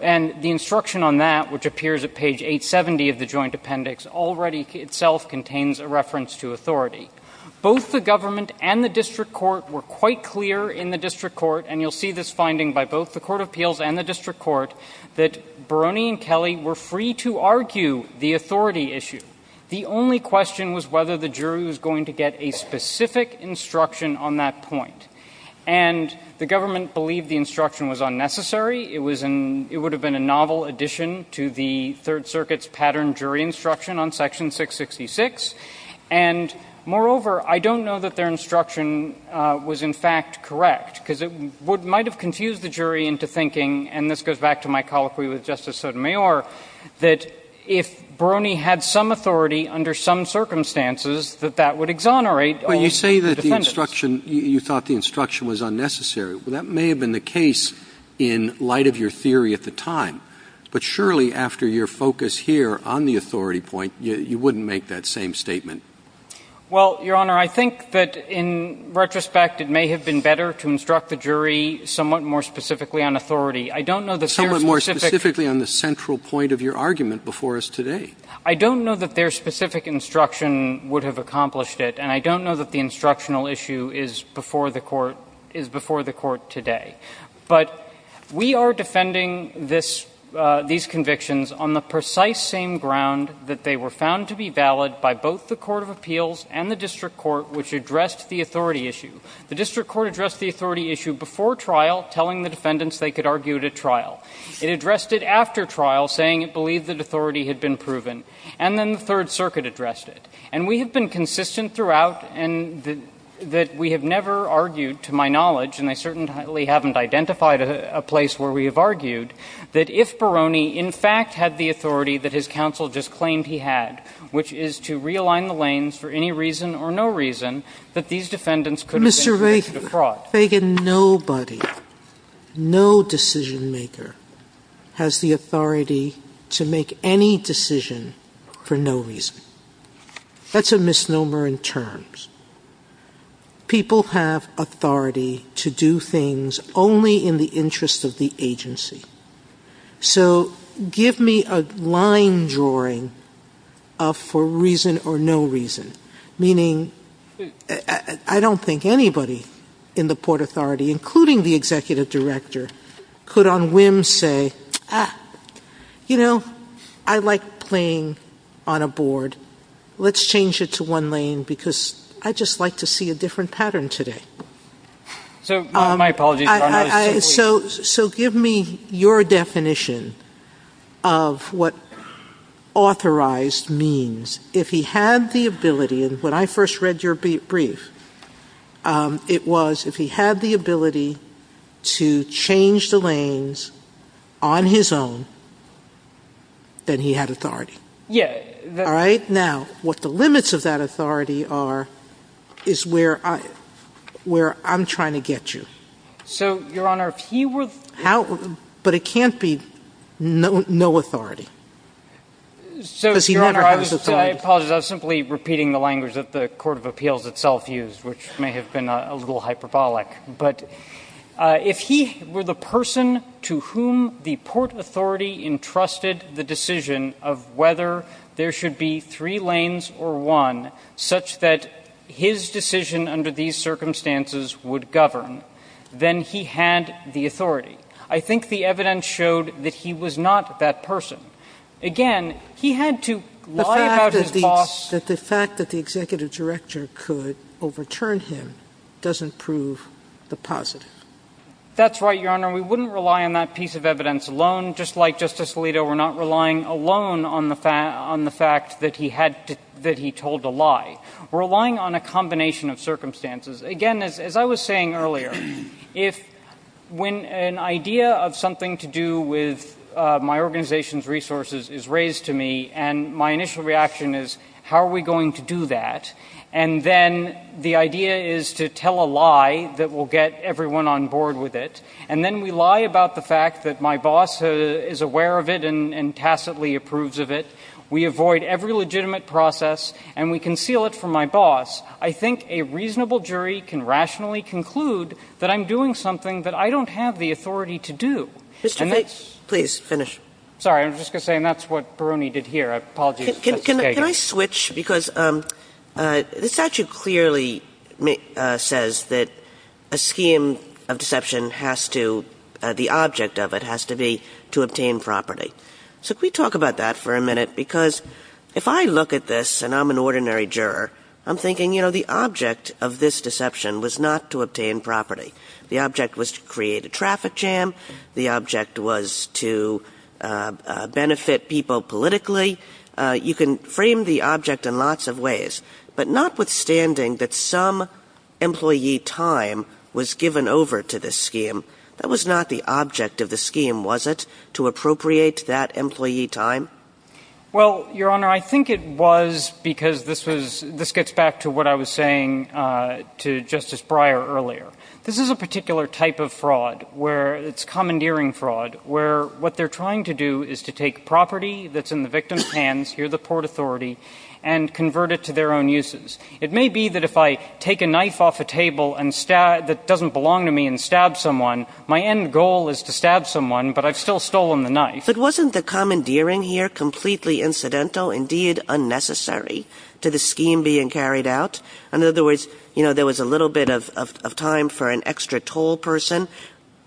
And the instruction on that, which appears at page 870 of the joint appendix, already itself contains a reference to authority. Both the government and the district court were quite clear in the district court, and you'll see this finding by both the court of appeals and the district court, that Barone and Kelly were free to argue the authority issue. The only question was whether the jury was going to get a specific instruction on that point. And the government believed the instruction was unnecessary. It was in – it would have been a novel addition to the Third Circuit's pattern jury instruction on section 666. And, moreover, I don't know that their instruction was, in fact, correct, because it might have confused the jury into thinking, and this goes back to my colloquy with Justice Sotomayor, that if Barone had some authority under some circumstances, that that would exonerate all the defendants. But you say that the instruction – you thought the instruction was unnecessary. That may have been the case in light of your theory at the time. But surely, after your focus here on the authority point, you wouldn't make that same statement. Well, Your Honor, I think that, in retrospect, it may have been better to instruct the jury somewhat more specifically on authority. I don't know that their specific— Somewhat more specifically on the central point of your argument before us today. I don't know that their specific instruction would have accomplished it, and I don't know that the instructional issue is before the court – is before the court today. But we are defending this – these convictions on the precise same ground that they were found to be valid by both the court of appeals and the district court, which addressed the authority issue. The district court addressed the authority issue before trial, telling the defendants they could argue it at trial. It addressed it after trial, saying it believed that authority had been proven. And then the Third Circuit addressed it. And we have been consistent throughout, and that we have never argued, to my knowledge – and I certainly haven't identified a place where we have argued – that if Barone in fact had the authority that his counsel just claimed he had, which is to realign the lanes for any reason or no reason, that these defendants could— Mr. Fagan, nobody, no decision-maker has the authority to make any decision for no reason. That's a misnomer in terms. People have authority to do things only in the interest of the agency. So give me a line drawing of for reason or no reason, meaning I don't think anybody in the Port Authority, including the executive director, could on whim say, ah, you know, I like playing on a board. Let's change it to one lane because I'd just like to see a different pattern today. So my apologies, Your Honor. So give me your definition of what authorized means. If he had the ability – and when I first read your brief, it was if he had the ability to change the lanes on his own, then he had authority. Yeah. All right? Now, what the limits of that authority are is where I'm trying to get you. So, Your Honor, if he were the— How? But it can't be no authority because he never has authority. I apologize. I was simply repeating the language that the Court of Appeals itself used, which may have been a little hyperbolic. But if he were the person to whom the Port Authority entrusted the decision of whether there should be three lanes or one such that his decision under these circumstances would govern, then he had the authority. I think the evidence showed that he was not that person. Again, he had to lie about his boss— The fact that the executive director could overturn him doesn't prove the positive. That's right, Your Honor. We wouldn't rely on that piece of evidence alone. Just like Justice Alito, we're not relying alone on the fact that he told a lie. We're relying on a combination of circumstances. Again, as I was saying earlier, when an idea of something to do with my organization's resources is raised to me, and my initial reaction is, how are we going to do that? And then the idea is to tell a lie that will get everyone on board with it. And then we lie about the fact that my boss is aware of it and tacitly approves of it. We avoid every legitimate process, and we conceal it from my boss. I think a reasonable jury can rationally conclude that I'm doing something that I don't have the authority to do. And that's— Mr. Faix, please finish. Sorry. I was just going to say, and that's what Peroni did here. Apologies, Justice Kagan. Can I switch? Because the statute clearly says that a scheme of deception has to—the object of it has to be to obtain property. So can we talk about that for a minute? Because if I look at this, and I'm an ordinary juror, I'm thinking, you know, the object of this deception was not to obtain property. The object was to create a traffic jam. The object was to benefit people politically. You can frame the object in lots of ways. But notwithstanding that some employee time was given over to this scheme, that was not the object of the scheme, was it, to appropriate that employee time? Well, Your Honor, I think it was because this gets back to what I was saying to Justice Breyer earlier. This is a particular type of fraud where it's commandeering fraud, where what they're trying to do is to take property that's in the victim's hands—here, the Port Authority—and convert it to their own uses. It may be that if I take a knife off a table that doesn't belong to me and stab someone, my end goal is to stab someone, but I've still stolen the knife. But wasn't the commandeering here completely incidental, indeed unnecessary, to the scheme being carried out? In other words, you know, there was a little bit of time for an extra toll person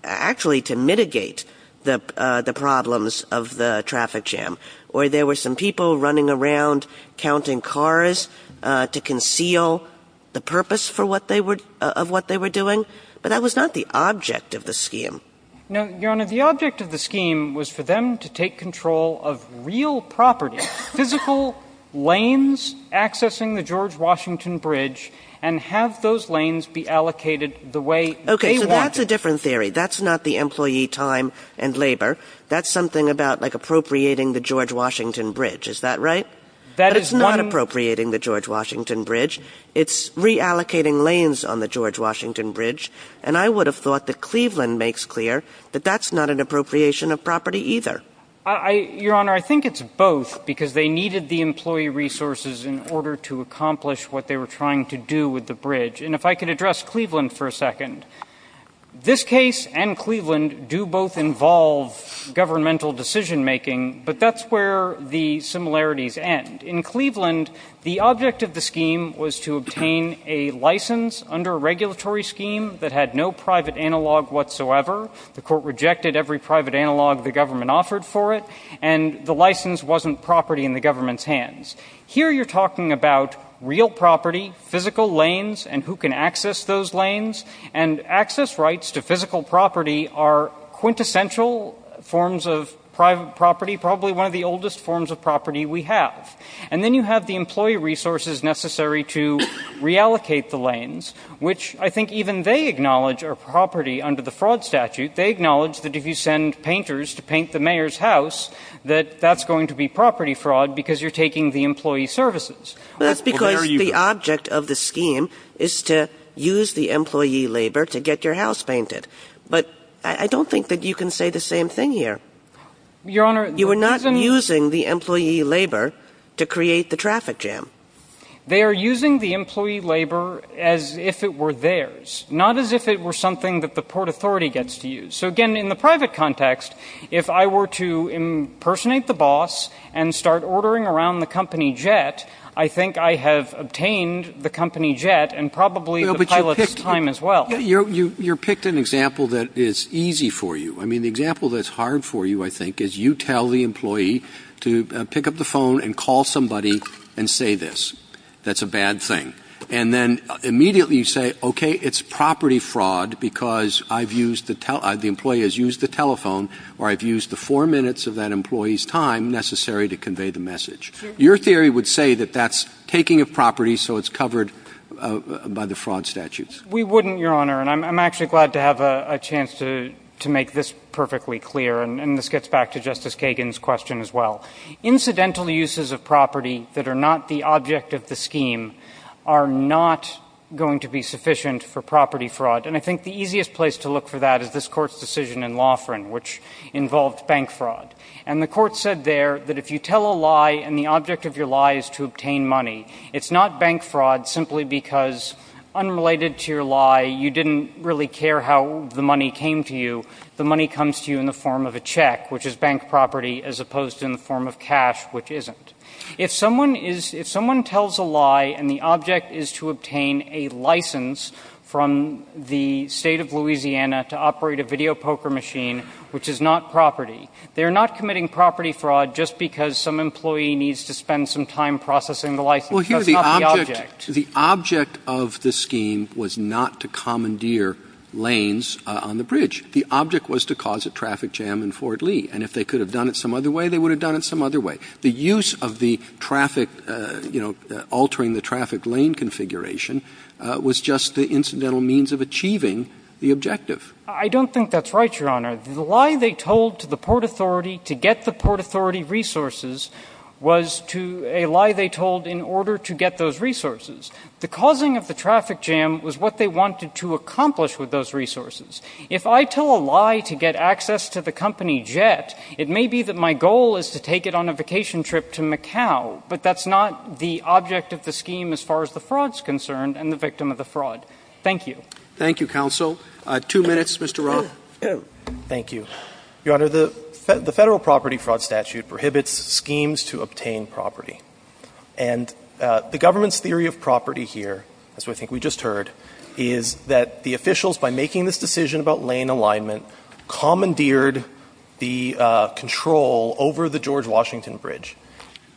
actually to mitigate the problems of the traffic jam, or there were some people running around counting cars to conceal the purpose for what they were — of what they were doing, but that was not the object of the scheme. Now, Your Honor, the object of the scheme was for them to take control of real property, physical lanes accessing the George Washington Bridge, and have those lanes be allocated the way they wanted. Okay. So that's a different theory. That's not the employee time and labor. That's something about, like, appropriating the George Washington Bridge. Is that right? That is one— But it's not appropriating the George Washington Bridge. It's reallocating lanes on the George Washington Bridge, and I would have thought that Cleveland makes clear that that's not an appropriation of property either. Your Honor, I think it's both, because they needed the employee resources in order to accomplish what they were trying to do with the bridge. And if I could address Cleveland for a second. This case and Cleveland do both involve governmental decision-making, but that's where the similarities end. In Cleveland, the object of the scheme was to obtain a license under a regulatory scheme that had no private analog whatsoever. The Court rejected every private analog the government offered for it, and the license wasn't property in the government's hands. Here you're talking about real property, physical lanes, and who can access those lanes. And access rights to physical property are quintessential forms of private property, probably one of the oldest forms of property we have. And then you have the employee resources necessary to reallocate the lanes, which I think even they acknowledge are property under the fraud statute. They acknowledge that if you send painters to paint the mayor's house, that that's going to be property fraud because you're taking the employee services. Well, that's because the object of the scheme is to use the employee labor to get your house painted. But I don't think that you can say the same thing here. Your Honor, the reason you're not using the employee labor to create the traffic jam. They are using the employee labor as if it were theirs, not as if it were something that the Port Authority gets to use. So, again, in the private context, if I were to impersonate the boss and start ordering around the company jet, I think I have obtained the company jet and probably the pilot's time as well. You picked an example that is easy for you. I mean, the example that's hard for you, I think, is you tell the employee to pick up the phone and call somebody and say this. That's a bad thing. And then immediately you say, okay, it's property fraud because I've used the telephone. The employee has used the telephone or I've used the four minutes of that employee's time necessary to convey the message. Your theory would say that that's taking a property so it's covered by the fraud statutes. We wouldn't, Your Honor. And I'm actually glad to have a chance to make this perfectly clear. And this gets back to Justice Kagan's question as well. Incidental uses of property that are not the object of the scheme are not going to be sufficient for property fraud. And I think the easiest place to look for that is this Court's decision in Laughran, which involved bank fraud. And the Court said there that if you tell a lie and the object of your lie is to obtain money, it's not bank fraud simply because, unrelated to your lie, you didn't really care how the money came to you. The money comes to you in the form of a check, which is bank property, as opposed to in the form of cash, which isn't. If someone is – if someone tells a lie and the object is to obtain a license from the State of Louisiana to operate a video poker machine, which is not property, they are not committing property fraud just because some employee needs to spend some time processing the license. That's not the object. The object of the scheme was not to commandeer lanes on the bridge. The object was to cause a traffic jam in Fort Lee. And if they could have done it some other way, they would have done it some other way. The use of the traffic – you know, altering the traffic lane configuration was just the incidental means of achieving the objective. I don't think that's right, Your Honor. The lie they told to the Port Authority to get the Port Authority resources was to – a lie they told in order to get those resources. The causing of the traffic jam was what they wanted to accomplish with those resources. If I tell a lie to get access to the company Jet, it may be that my goal is to take it on a vacation trip to Macau, but that's not the object of the scheme as far as the fraud's concerned and the victim of the fraud. Thank you. Roberts. Thank you, counsel. Two minutes, Mr. Roth. Roth. Thank you. Your Honor, the Federal property fraud statute prohibits schemes to obtain property. And the government's theory of property here, as I think we just heard, is that the decision about lane alignment commandeered the control over the George Washington Bridge.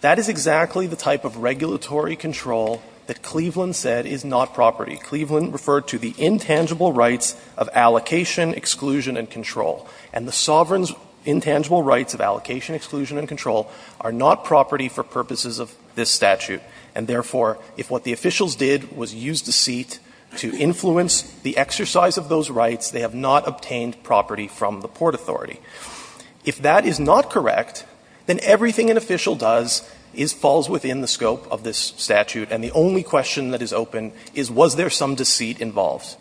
That is exactly the type of regulatory control that Cleveland said is not property. Cleveland referred to the intangible rights of allocation, exclusion, and control. And the sovereign's intangible rights of allocation, exclusion, and control are not property for purposes of this statute. And therefore, if what the officials did was use deceit to influence the exercise of those rights, they have not obtained property from the Port Authority. If that is not correct, then everything an official does is – falls within the scope of this statute, and the only question that is open is was there some deceit involved.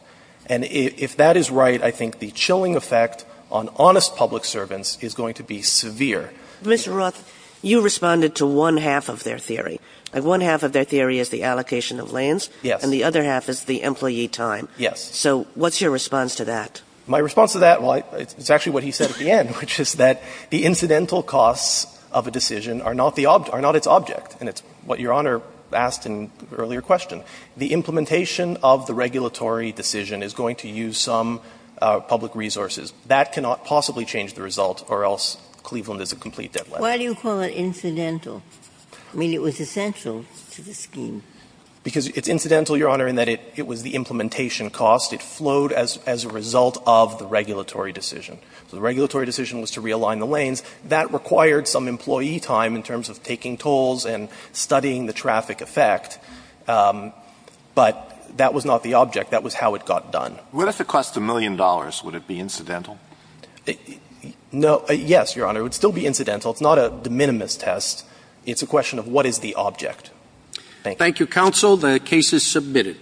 And if that is right, I think the chilling effect on honest public servants is going to be severe. Mr. Roth, you responded to one half of their theory. One half of their theory is the allocation of lanes. Yes. And the other half is the employee time. Yes. So what's your response to that? My response to that, well, it's actually what he said at the end, which is that the incidental costs of a decision are not the object – are not its object. And it's what Your Honor asked in the earlier question. The implementation of the regulatory decision is going to use some public resources. That cannot possibly change the result, or else Cleveland is a complete deadlift. Why do you call it incidental? I mean, it was essential to the scheme. Because it's incidental, Your Honor, in that it was the implementation cost. It flowed as a result of the regulatory decision. So the regulatory decision was to realign the lanes. That required some employee time in terms of taking tolls and studying the traffic effect. But that was not the object. That was how it got done. What if it cost a million dollars? Would it be incidental? No. Yes, Your Honor. It would still be incidental. It's not a de minimis test. It's a question of what is the object. Thank you. Thank you, counsel. The case is submitted.